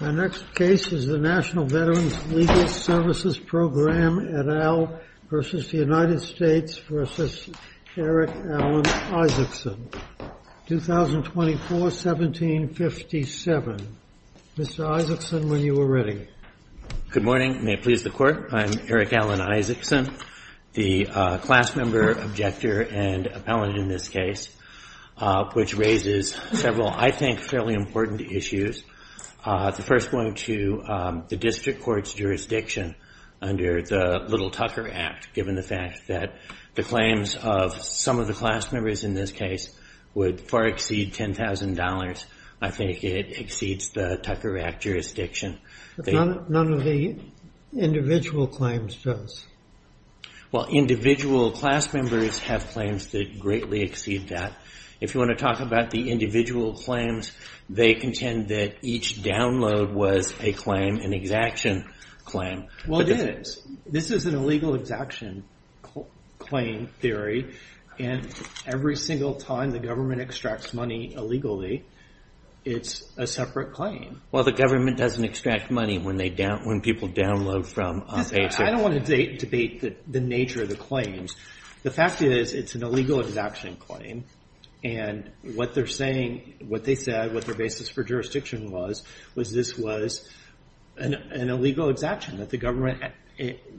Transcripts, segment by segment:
Our next case is the National Veterans Legal Services Program et al. v. United States v. Eric Alan Isaacson, 2024-1757. Mr. Isaacson, when you are ready. Good morning. May it please the Court. I'm Eric Alan Isaacson, the class member, objector, and appellant in this case, which raises several, I think, fairly important issues. The first one to the district court's jurisdiction under the Little-Tucker Act, given the fact that the claims of some of the class members in this case would far exceed $10,000. I think it exceeds the Tucker Act jurisdiction. None of the individual claims does. Well, individual class members have claims that greatly exceed that. If you want to talk about the individual claims, they contend that each download was a claim, an exaction claim. Well, it is. This is an illegal exaction claim theory, and every single time the government extracts money illegally, it's a separate claim. Well, the government doesn't extract money when people download from paychecks. I don't want to debate the nature of the claims. The fact is, it's an illegal exaction claim, and what they're saying, what they said, what their basis for jurisdiction was, was this was an illegal exaction, that the government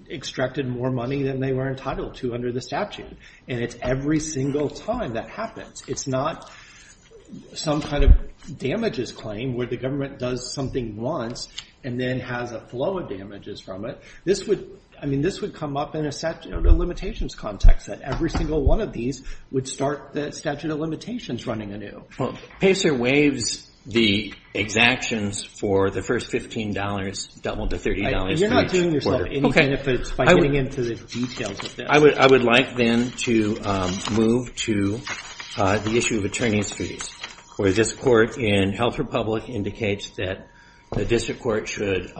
extracted more money than they were entitled to under the statute, and it's every single time that happens. It's not some kind of damages claim where the government does something once and then has a flow of damages from it. I mean, this would come up in a statute of limitations context, that every single one of these would start the statute of limitations running anew. Well, PACER waives the exactions for the first $15, double the $30. You're not doing yourself any benefits by getting into the details of this. I would like then to move to the issue of attorney's fees, where this court in Health Republic indicates that the district court should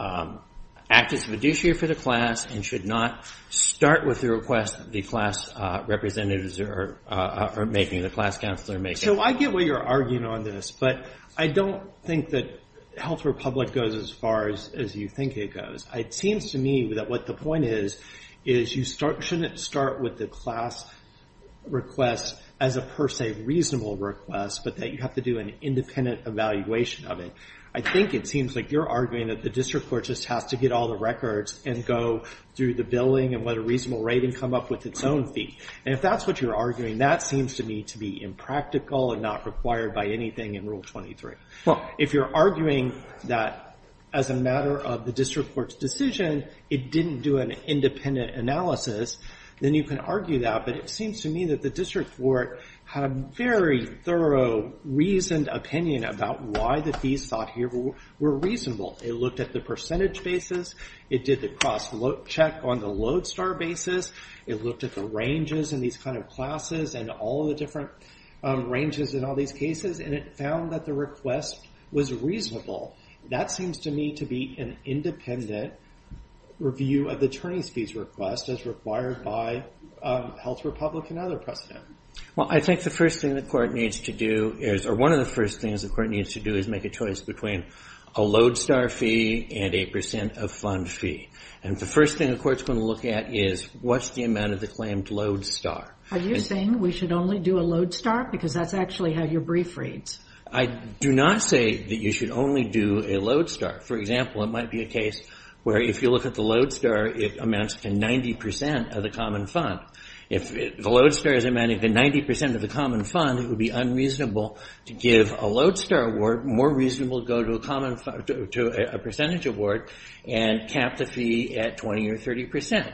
act as fiduciary for the class and should not start with the request the class representatives are making, the class counselor making. So I get why you're arguing on this, but I don't think that Health Republic goes as far as you think it goes. It seems to me that what the point is, is you shouldn't start with the class request as a per se reasonable request, but that you have to do an independent evaluation of it. I think it seems like you're arguing that the district court just has to get all the records and go through the billing and let a reasonable rating come up with its own fee. And if that's what you're arguing, that seems to me to be impractical and not required by anything in Rule 23. If you're arguing that as a matter of the district court's decision, it didn't do an independent analysis, then you can argue that. But it seems to me that the district court had a very thorough, reasoned opinion about why the fees sought here were reasonable. It looked at the percentage basis. It did the cross-check on the Lodestar basis. It looked at the ranges in these kind of classes and all the different ranges in all these cases, and it found that the request was reasonable. That seems to me to be an independent review of the attorney's fees request as required by Health Republic and other precedent. Well, I think the first thing the court needs to do is or one of the first things the court needs to do is make a choice between a Lodestar fee and a percent of fund fee. And the first thing the court's going to look at is what's the amount of the claimed Lodestar. Are you saying we should only do a Lodestar because that's actually how your brief reads? I do not say that you should only do a Lodestar. For example, it might be a case where if you look at the Lodestar, it amounts to 90 percent of the common fund. If the Lodestar is amounting to 90 percent of the common fund, it would be unreasonable to give a Lodestar award, more reasonable to go to a percentage award and cap the fee at 20 or 30 percent.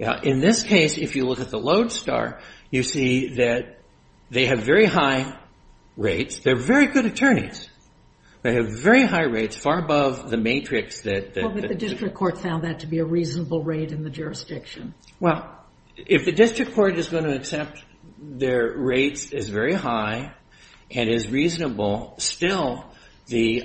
In this case, if you look at the Lodestar, you see that they have very high rates. They're very good attorneys. They have very high rates, far above the matrix that- Well, but the district court found that to be a reasonable rate in the jurisdiction. Well, if the district court is going to accept their rates is very high and is reasonable, still the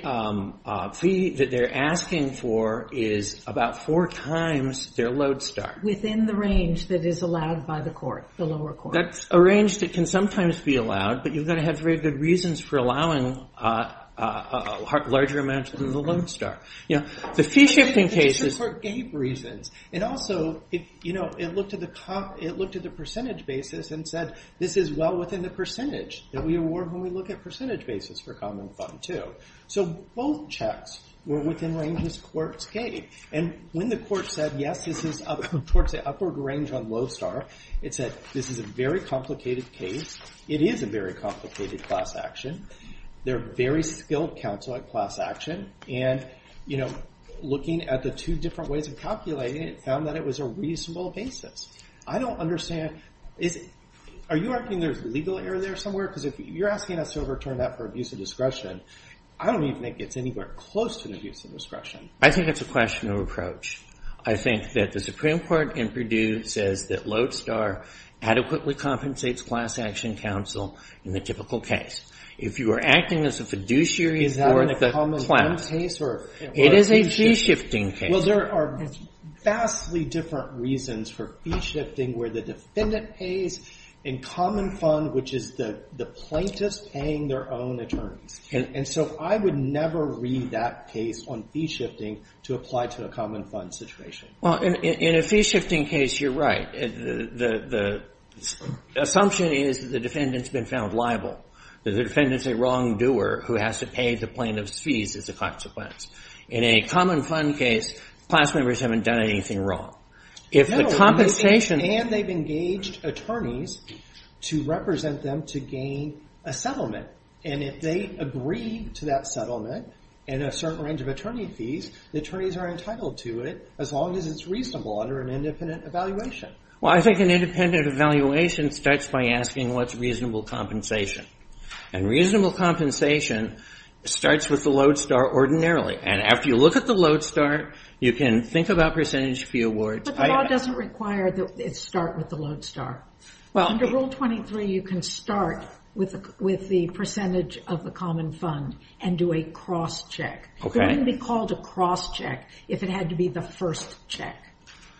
fee that they're asking for is about four times their Lodestar. Within the range that is allowed by the court, the lower court. That's a range that can sometimes be allowed, but you've got to have very good reasons for allowing larger amounts than the Lodestar. The fee-shifting cases- The district court gave reasons. Also, it looked at the percentage basis and said, this is well within the percentage that we award when we look at percentage basis for common fund, too. Both checks were within ranges courts gave. When the court said, yes, this is towards the upward range on Lodestar, it said, this is a very complicated case. It is a very complicated class action. They're very skilled counsel at class action, and looking at the two different ways of calculating it, it found that it was a reasonable basis. I don't understand. Are you arguing there's legal error there somewhere? Because if you're asking us to overturn that for abuse of discretion, I don't even think it's anywhere close to an abuse of discretion. I think it's a question of approach. I think that the Supreme Court in Purdue says that Lodestar adequately compensates class action counsel in the typical case. If you are acting as a fiduciary for the class- Is that a common fund case? It is a fee-shifting case. Well, there are vastly different reasons for fee-shifting where the defendant pays in common fund, which is the plaintiffs paying their own attorneys. And so I would never read that case on fee-shifting to apply to a common fund situation. Well, in a fee-shifting case, you're right. The assumption is that the defendant's been found liable, that the defendant's a wrongdoer who has to pay the plaintiff's fees as a consequence. In a common fund case, class members haven't done anything wrong. If the compensation- No, and they've engaged attorneys to represent them to gain a settlement. And if they agree to that settlement and a certain range of attorney fees, the attorneys are entitled to it as long as it's reasonable under an independent evaluation. Well, I think an independent evaluation starts by asking what's reasonable compensation. And reasonable compensation starts with the Lodestar ordinarily. And after you look at the Lodestar, you can think about percentage fee awards. But the law doesn't require that it start with the Lodestar. Under Rule 23, you can start with the percentage of the common fund and do a cross-check. It wouldn't be called a cross-check if it had to be the first check.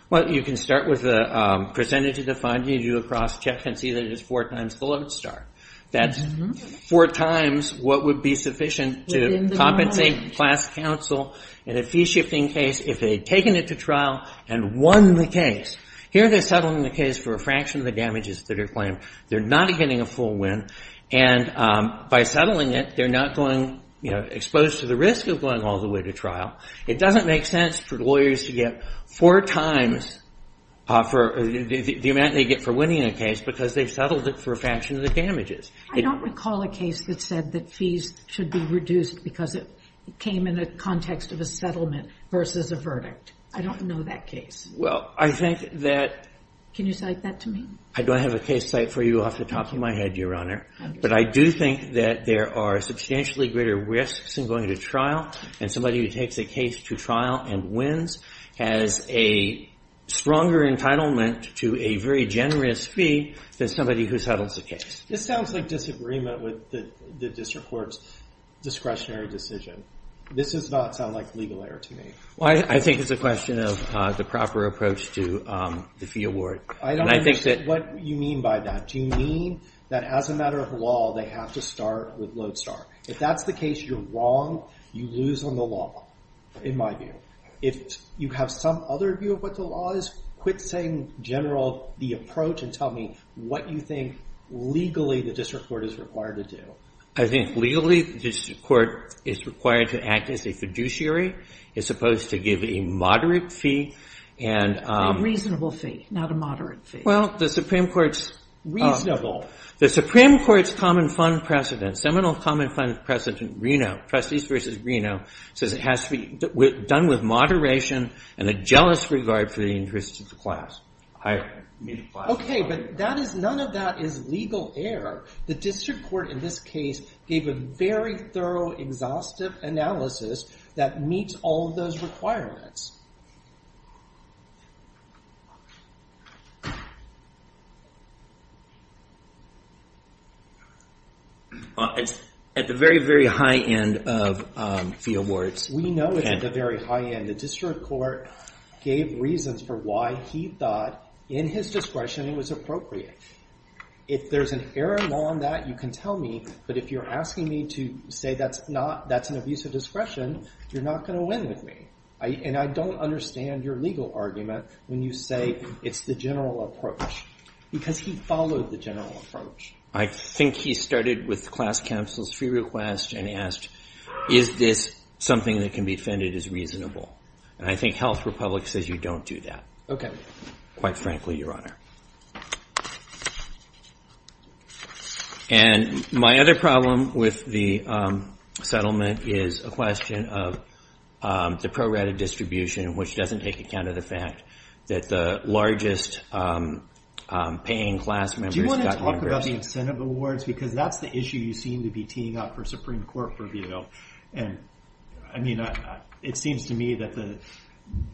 Well, you can start with the percentage of the fund, you do a cross-check and see that it is four times the Lodestar. That's four times what would be sufficient to compensate class counsel in a fee-shifting case if they'd taken it to trial and won the case. Here they're settling the case for a fraction of the damages that are claimed. They're not getting a full win. And by settling it, they're not going, you know, exposed to the risk of going all the way to trial. It doesn't make sense for lawyers to get four times the amount they get for winning a case because they've settled it for a fraction of the damages. I don't recall a case that said that fees should be reduced because it came in a context of a settlement versus a verdict. I don't know that case. Well, I think that... Can you cite that to me? I don't have a case cite for you off the top of my head, Your Honor. But I do think that there are substantially greater risks in going to trial and somebody who takes a case to trial and wins has a stronger entitlement to a very generous fee than somebody who settles the case. This sounds like disagreement with the district court's discretionary decision. This does not sound like legal error to me. Well, I think it's a question of the proper approach to the fee award. And I think that... I don't understand what you mean by that. Do you mean that as a matter of law, they have to start with Lodestar? If that's the case, you're wrong. You lose on the law, in my view. If you have some other view of what the law is, quit saying, in general, the approach and tell me what you think legally the district court is required to do. I think legally the district court is required to act as a fiduciary. It's supposed to give a moderate fee and... A reasonable fee, not a moderate fee. Well, the Supreme Court's... Reasonable. The Supreme Court's common fund precedent, seminal common fund precedent, RINO, Prestige v. RINO, says it has to be done with moderation and a jealous regard for the interests of the class. Okay, but none of that is legal error. The district court, in this case, gave a very thorough, exhaustive analysis that meets all of those requirements. It's at the very, very high end of fee awards. We know it's at the very high end. The district court gave reasons for why he thought, in his discretion, it was appropriate. If there's an error law on that, you can tell me, but if you're asking me to say that's an abuse of discretion, you're not going to win with me. And I don't understand your legal argument when you say it's the general approach, because he followed the general approach. I think he started with the class counsel's fee request and asked, is this something that can be defended as reasonable? And I think Health Republic says you don't do that, quite frankly, Your Honor. And my other problem with the settlement is a question of the prorated distribution, which doesn't take account of the fact that the largest paying class members got members. Do you want to talk about the incentive awards? Because that's the issue you seem to be teeing up for Supreme Court review. I mean, it seems to me that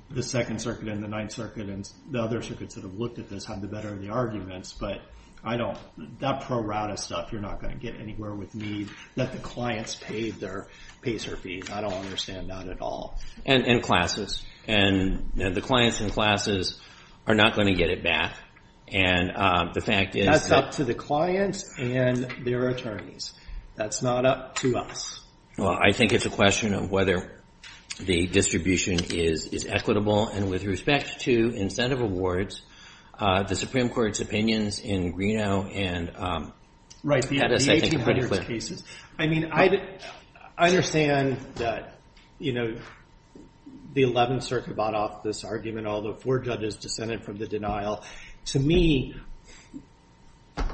the Second Circuit and the Ninth Circuit and the other circuits that have looked at this have the better of the arguments, but that prorated stuff you're not going to get anywhere with me. Let the clients pay their fees. I don't understand that at all. And classes. And the clients and classes are not going to get it back. And the fact is that's up to the clients and their attorneys. That's not up to us. Well, I think it's a question of whether the distribution is equitable. And with respect to incentive awards, the Supreme Court's opinions in Greeno and Pettis, I think, are pretty clear. Right, the 1800s cases. I mean, I understand that, you know, the 11th Circuit bought off this argument, although four judges dissented from the denial. To me,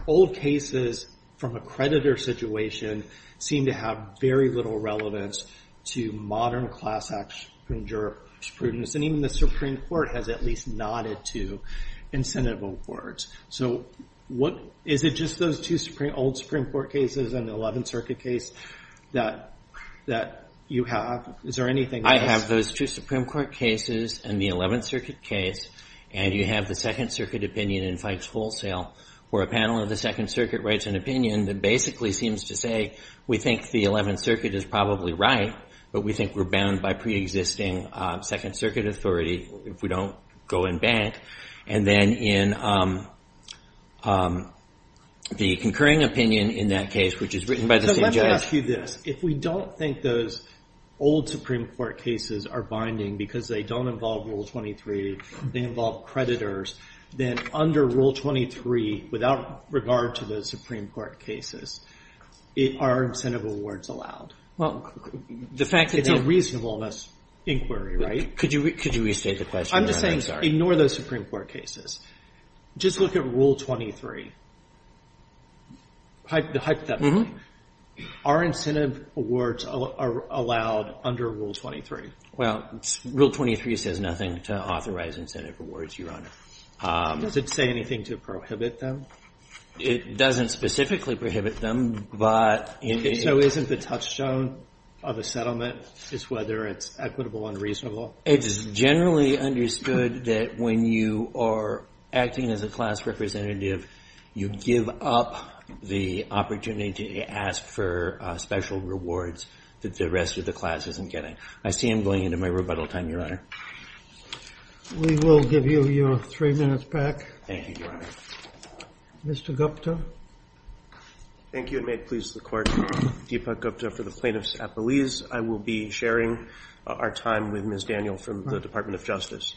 old cases from a creditor situation seem to have very little relevance to modern class action and even the Supreme Court has at least nodded to incentive awards. So is it just those two old Supreme Court cases and the 11th Circuit case that you have? Is there anything else? I have those two Supreme Court cases and the 11th Circuit case, and you have the Second Circuit opinion in Fikes Wholesale, where a panel of the Second Circuit writes an opinion that basically seems to say, we think the 11th Circuit is probably right, but we think we're bound by preexisting Second Circuit authority if we don't go in bank. And then in the concurring opinion in that case, which is written by the same judge. So let me ask you this. If we don't think those old Supreme Court cases are binding because they don't involve Rule 23, they involve creditors, then under Rule 23, without regard to those Supreme Court cases, are incentive awards allowed? Well, the fact that they're – It's a reasonableness inquiry, right? Could you restate the question, Your Honor? I'm just saying ignore those Supreme Court cases. Just look at Rule 23, the hypothetical. Our incentive awards are allowed under Rule 23. Well, Rule 23 says nothing to authorize incentive awards, Your Honor. Does it say anything to prohibit them? It doesn't specifically prohibit them, but in the – So isn't the touchstone of a settlement is whether it's equitable and reasonable? It is generally understood that when you are acting as a class representative, you give up the opportunity to ask for special rewards that the rest of the class isn't getting. I see I'm going into my rebuttal time, Your Honor. We will give you your three minutes back. Thank you, Your Honor. Mr. Gupta? Thank you, and may it please the Court. Deepak Gupta for the plaintiffs at Belize. I will be sharing our time with Ms. Daniel from the Department of Justice.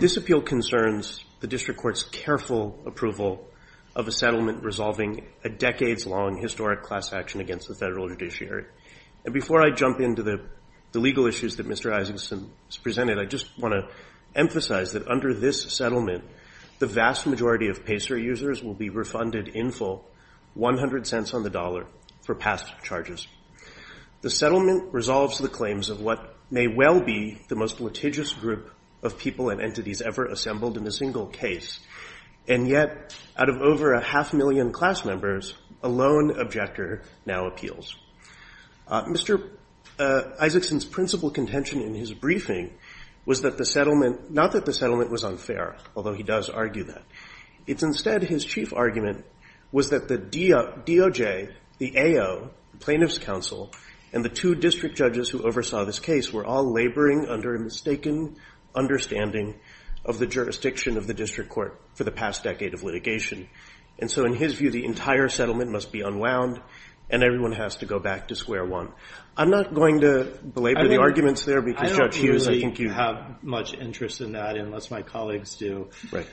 This appeal concerns the district court's careful approval of a settlement resolving a decades-long historic class action against the federal judiciary. And before I jump into the legal issues that Mr. Isakson has presented, I just want to emphasize that under this settlement, the vast majority of PACER users will be refunded in full 100 cents on the dollar for past charges. The settlement resolves the claims of what may well be the most litigious group of people and entities ever assembled in a single case, and yet out of over a half million class members, a lone objector now appeals. Mr. Isakson's principal contention in his briefing was not that the settlement was unfair, although he does argue that. It's instead his chief argument was that the DOJ, the AO, the Plaintiffs' Council, and the two district judges who oversaw this case were all laboring under a mistaken understanding of the jurisdiction of the district court for the past decade of litigation. And so in his view, the entire settlement must be unwound, and everyone has to go back to square one. I'm not going to belabor the arguments there because, Judge Hughes, I think you – I don't really have much interest in that unless my colleagues do. Right.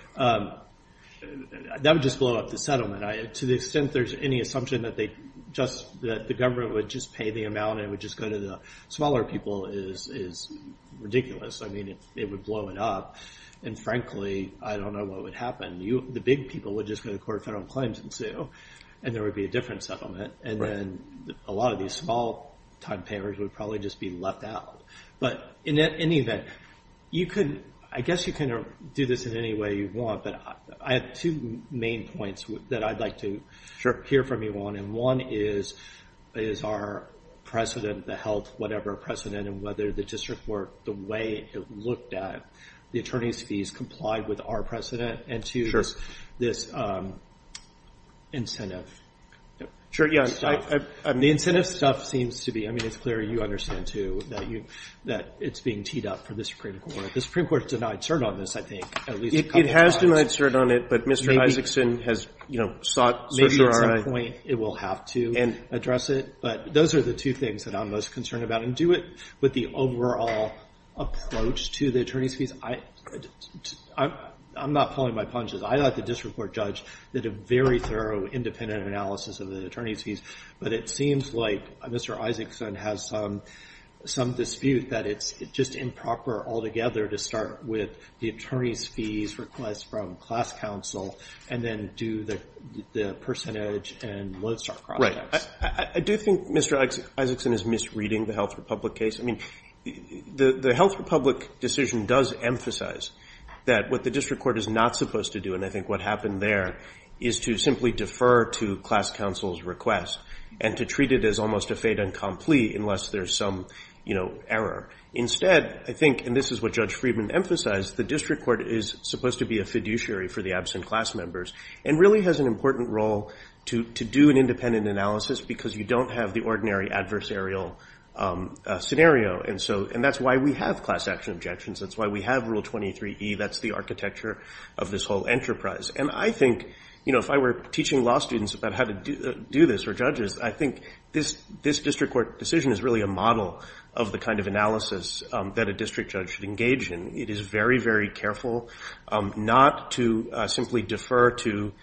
That would just blow up the settlement. To the extent there's any assumption that they just – that the government would just pay the amount and it would just go to the smaller people is ridiculous. I mean, it would blow it up. And frankly, I don't know what would happen. The big people would just go to court with their own claims and sue, and there would be a different settlement. And then a lot of these small-time payers would probably just be left out. But in any event, you could – I guess you can do this in any way you want, but I have two main points that I'd like to hear from you on. And one is, is our precedent, the health whatever precedent, and whether the district court, the way it looked at the attorney's fees complied with our precedent and to this incentive. Sure, yeah. The incentive stuff seems to be – I mean, it's clear you understand, too, that it's being teed up for the Supreme Court. The Supreme Court denied cert on this, I think, at least a couple of times. It has denied cert on it, but Mr. Isakson has sought cert for R.I. Maybe at some point it will have to address it. But those are the two things that I'm most concerned about. And do it with the overall approach to the attorney's fees. I'm not pulling my punches. I'd like the district court judge to do a very thorough, independent analysis of the attorney's fees. But it seems like Mr. Isakson has some dispute that it's just improper altogether to start with the attorney's fees request from class counsel and then do the percentage and Lodestar products. I do think Mr. Isakson is misreading the Health Republic case. I mean, the Health Republic decision does emphasize that what the district court is not supposed to do, and I think what happened there, is to simply defer to class counsel's request and to treat it as almost a fait incompli unless there's some, you know, error. Instead, I think, and this is what Judge Friedman emphasized, the district court is supposed to be a fiduciary for the absent class members and really has an important role to do an independent analysis because you don't have the ordinary adversarial scenario. And that's why we have class action objections. That's why we have Rule 23E. That's the architecture of this whole enterprise. And I think, you know, if I were teaching law students about how to do this or judges, I think this district court decision is really a model of the kind of analysis that a district judge should engage in. It is very, very careful not to simply defer to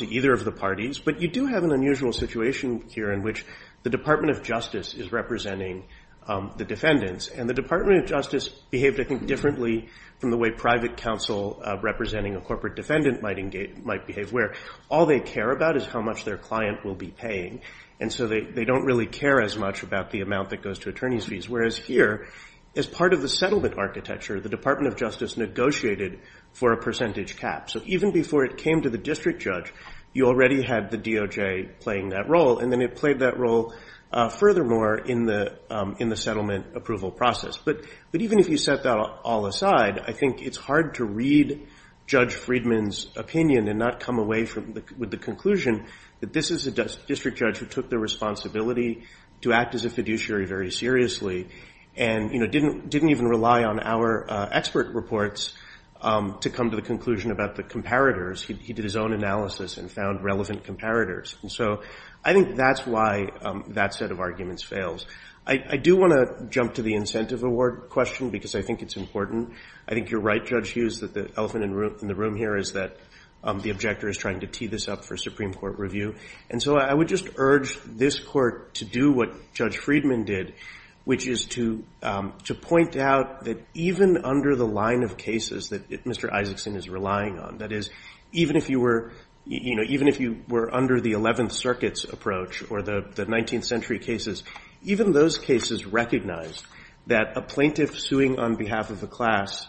either of the parties. But you do have an unusual situation here in which the Department of Justice is representing the defendants. And the Department of Justice behaved, I think, differently from the way private counsel representing a corporate defendant might behave, where all they care about is how much their client will be paying. And so they don't really care as much about the amount that goes to attorney's fees. Whereas here, as part of the settlement architecture, the Department of Justice negotiated for a percentage cap. So even before it came to the district judge, you already had the DOJ playing that role, and then it played that role furthermore in the settlement approval process. But even if you set that all aside, I think it's hard to read Judge Friedman's opinion and not come away with the conclusion that this is a district judge who took the responsibility to act as a fiduciary very seriously and didn't even rely on our expert reports to come to the conclusion about the comparators. He did his own analysis and found relevant comparators. And so I think that's why that set of arguments fails. I do want to jump to the incentive award question because I think it's important. I think you're right, Judge Hughes, that the elephant in the room here is that the objector is trying to tee this up for Supreme Court review. And so I would just urge this Court to do what Judge Friedman did, which is to point out that even under the line of cases that Mr. Isaacson is relying on, that is, even if you were under the Eleventh Circuit's approach or the 19th Century cases, even those cases recognized that a plaintiff suing on behalf of the class,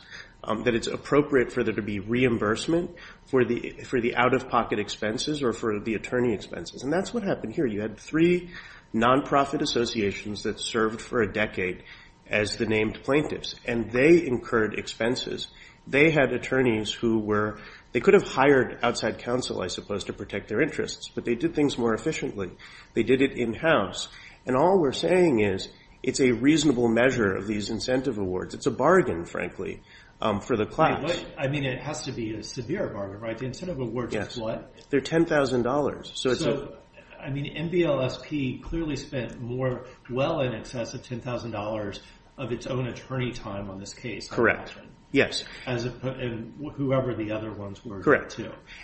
that it's appropriate for there to be reimbursement for the out-of-pocket expenses or for the attorney expenses. And that's what happened here. You had three nonprofit associations that served for a decade as the named plaintiffs, and they incurred expenses. They had attorneys who were they could have hired outside counsel, I suppose, to protect their interests, but they did things more efficiently. They did it in-house. And all we're saying is it's a reasonable measure of these incentive awards. It's a bargain, frankly, for the class. I mean, it has to be a severe bargain, right? The incentive awards are what? They're $10,000. So, I mean, MBLSP clearly spent more, well in excess of $10,000 of its own attorney time on this case. Correct, yes. And whoever the other ones were, too. Correct.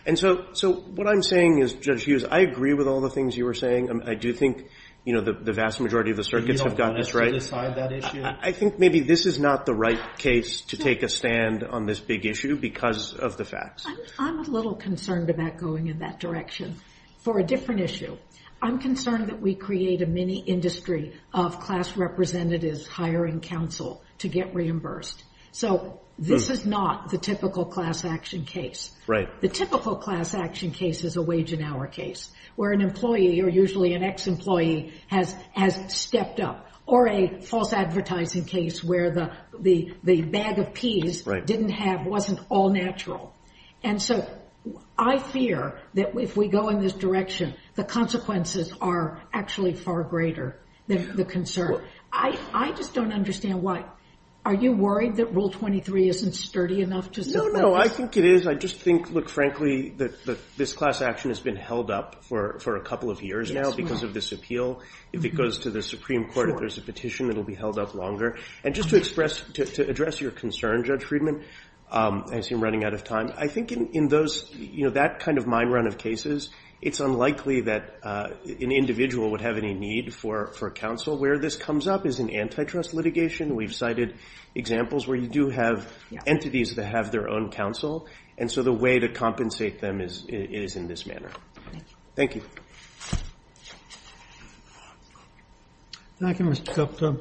And so what I'm saying is, Judge Hughes, I agree with all the things you were saying. I do think the vast majority of the circuits have got this right. You don't want us to decide that issue? I think maybe this is not the right case to take a stand on this big issue because of the facts. I'm a little concerned about going in that direction for a different issue. I'm concerned that we create a mini-industry of class representatives hiring counsel to get reimbursed. So this is not the typical class action case. The typical class action case is a wage and hour case, where an employee, or usually an ex-employee, has stepped up, or a false advertising case where the bag of peas didn't have, wasn't all natural. And so I fear that if we go in this direction, the consequences are actually far greater than the concern. I just don't understand why. Are you worried that Rule 23 isn't sturdy enough? No, no, I think it is. I just think, look, frankly, this class action has been held up for a couple of years now because of this appeal. If it goes to the Supreme Court, if there's a petition, it will be held up longer. And just to express, to address your concern, Judge Friedman, I see I'm running out of time. I think in those, you know, that kind of mind run of cases, it's unlikely that an individual would have any need for counsel. Where this comes up is in antitrust litigation. We've cited examples where you do have entities that have their own counsel, and so the way to compensate them is in this manner. Thank you. Thank you, Mr. Gupta.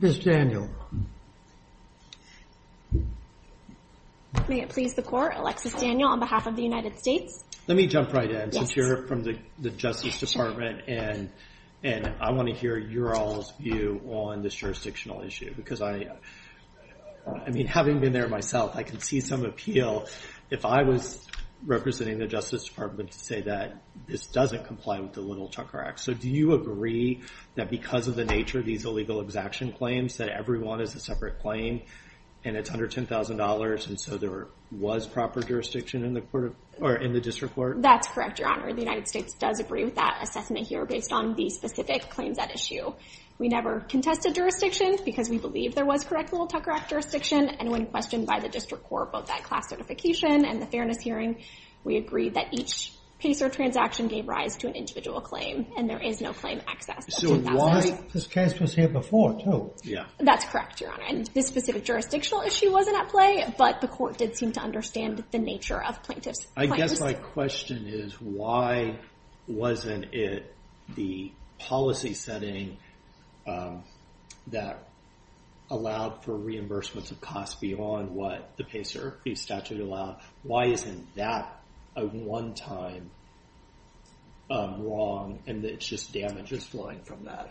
Ms. Daniel. May it please the Court, Alexis Daniel on behalf of the United States. Let me jump right in. Yes. I hear it from the Justice Department, and I want to hear your all's view on this jurisdictional issue. Because I mean, having been there myself, I can see some appeal. If I was representing the Justice Department to say that this doesn't comply with the Little-Chunker Act, so do you agree that because of the nature of these illegal exaction claims, that everyone is a separate claim, and it's under $10,000, and so there was proper jurisdiction in the District Court? That's correct, Your Honor. The United States does agree with that assessment here based on the specific claims at issue. We never contested jurisdiction because we believe there was correct Little-Chunker Act jurisdiction, and when questioned by the District Court about that class certification and the fairness hearing, we agreed that each piece or transaction gave rise to an individual claim, and there is no claim access. So this case was here before, too. That's correct, Your Honor. And this specific jurisdictional issue wasn't at play, but the Court did seem to understand the nature of plaintiffs' claims. I guess my question is why wasn't it the policy setting that allowed for reimbursements of costs beyond what the PACER fee statute allowed? Why isn't that a one-time wrong, and it's just damages flowing from that?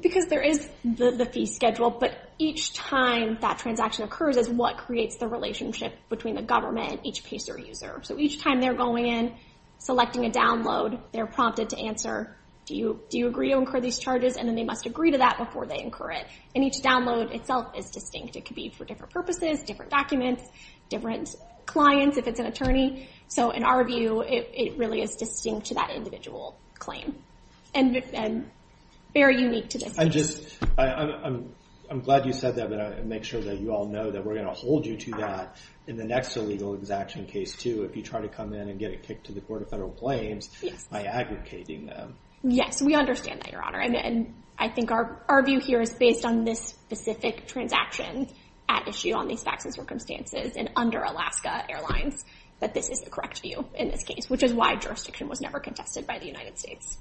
Because there is the fee schedule, but each time that transaction occurs is what creates the relationship between the government and each PACER user. So each time they're going in, selecting a download, they're prompted to answer, do you agree to incur these charges? And then they must agree to that before they incur it. And each download itself is distinct. It could be for different purposes, different documents, different clients if it's an attorney. So in our view, it really is distinct to that individual claim and very unique to this case. I'm glad you said that, but I want to make sure that you all know that we're going to hold you to that in the next illegal exaction case too if you try to come in and get a kick to the Court of Federal Claims by aggregating them. Yes, we understand that, Your Honor, and I think our view here is based on this specific transaction at issue on these PACER circumstances and under Alaska Airlines, that this is the correct view in this case, which is why jurisdiction was never contested by the United States.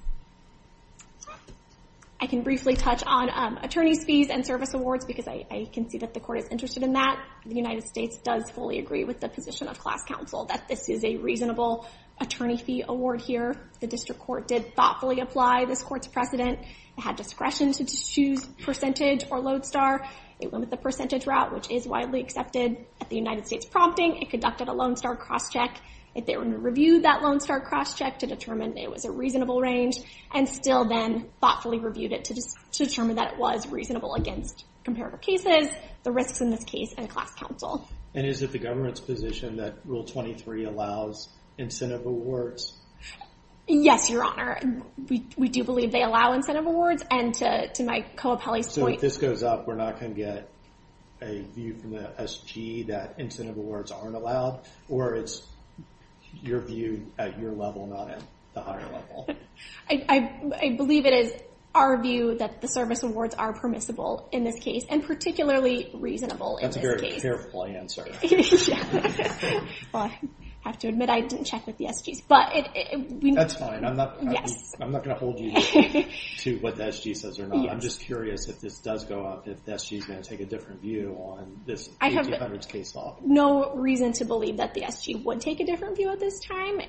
I can briefly touch on attorney's fees and service awards because I can see that the Court is interested in that. The United States does fully agree with the position of class counsel that this is a reasonable attorney fee award here. The district court did thoughtfully apply this court's precedent. It had discretion to choose percentage or lodestar. It went with the percentage route, which is widely accepted at the United States prompting. It conducted a lodestar crosscheck. It then reviewed that lodestar crosscheck to determine it was a reasonable range and still then thoughtfully reviewed it to determine that it was reasonable against comparative cases, the risks in this case, and class counsel. And is it the government's position that Rule 23 allows incentive awards? Yes, Your Honor. We do believe they allow incentive awards, and to my co-appellee's point— So if this goes up, we're not going to get a view from the SG that incentive awards aren't allowed, or it's your view at your level, not at the higher level? I believe it is our view that the service awards are permissible in this case and particularly reasonable in this case. That's a very careful answer. Well, I have to admit I didn't check with the SGs. That's fine. I'm not going to hold you to what the SG says or not. I'm just curious if this does go up, if the SG's going to take a different view on this 1800s case law. I have no reason to believe that the SG would take a different view at this time.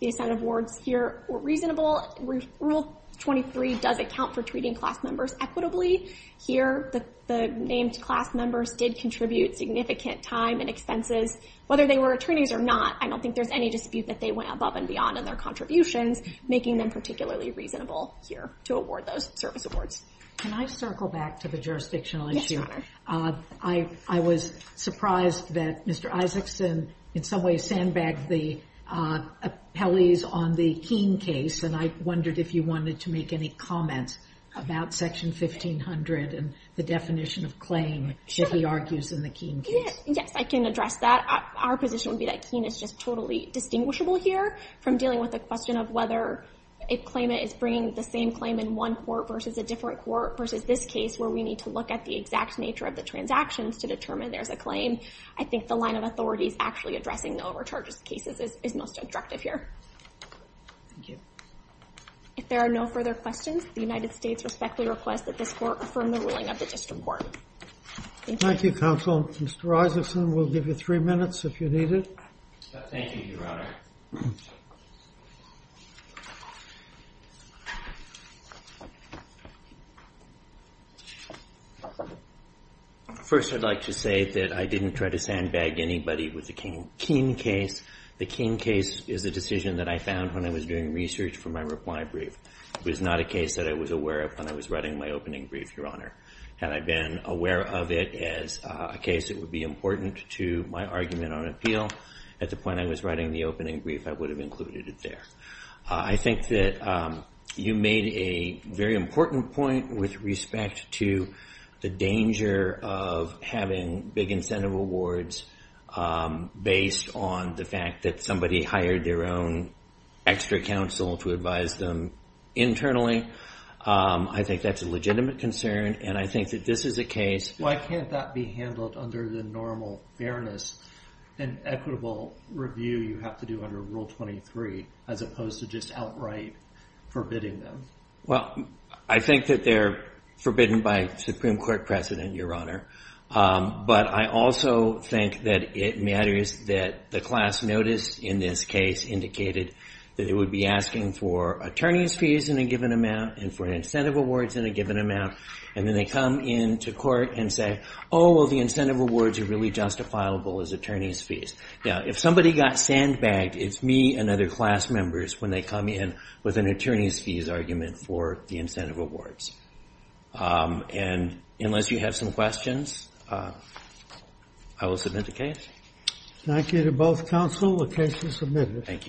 The incentive awards here were reasonable. Rule 23 does account for treating class members equitably. Here, the named class members did contribute significant time and expenses, whether they were attorneys or not. I don't think there's any dispute that they went above and beyond in their contributions, making them particularly reasonable here to award those service awards. Can I circle back to the jurisdictional issue? I was surprised that Mr. Isaacson in some ways sandbagged the appellees on the Keene case, and I wondered if you wanted to make any comments about Section 1500 and the definition of claim that he argues in the Keene case. Yes, I can address that. Our position would be that Keene is just totally distinguishable here from dealing with the question of whether a claimant is bringing the same claim in one court versus a different court versus this case where we need to look at the exact nature of the transactions to determine there's a claim. I think the line of authorities actually addressing the overcharges cases is most attractive here. Thank you. If there are no further questions, the United States respectfully request that this Court affirm the ruling of the District Court. Thank you, Counsel. Mr. Isaacson, we'll give you three minutes if you need it. Thank you, Your Honor. First, I'd like to say that I didn't try to sandbag anybody with the Keene case. The Keene case is a decision that I found when I was doing research for my reply brief. It was not a case that I was aware of when I was writing my opening brief, Your Honor. Had I been aware of it as a case that would be important to my argument on appeal, at the point I was writing the opening brief, I would have included it there. I think that you made a very important point with respect to the danger of having big incentive awards based on the fact that somebody hired their own extra counsel to advise them internally. I think that's a legitimate concern, and I think that this is a case. Why can't that be handled under the normal fairness and equitable review you have to do under Rule 23 as opposed to just outright forbidding them? Well, I think that they're forbidden by Supreme Court precedent, Your Honor, but I also think that it matters that the class notice in this case indicated that it would be asking for attorney's fees in a given amount and for incentive awards in a given amount, and then they come into court and say, oh, well, the incentive awards are really justifiable as attorney's fees. Now, if somebody got sandbagged, it's me and other class members when they come in with an attorney's fees argument for the incentive awards. And unless you have some questions, I will submit the case. Thank you to both counsel. The case is submitted. Thank you.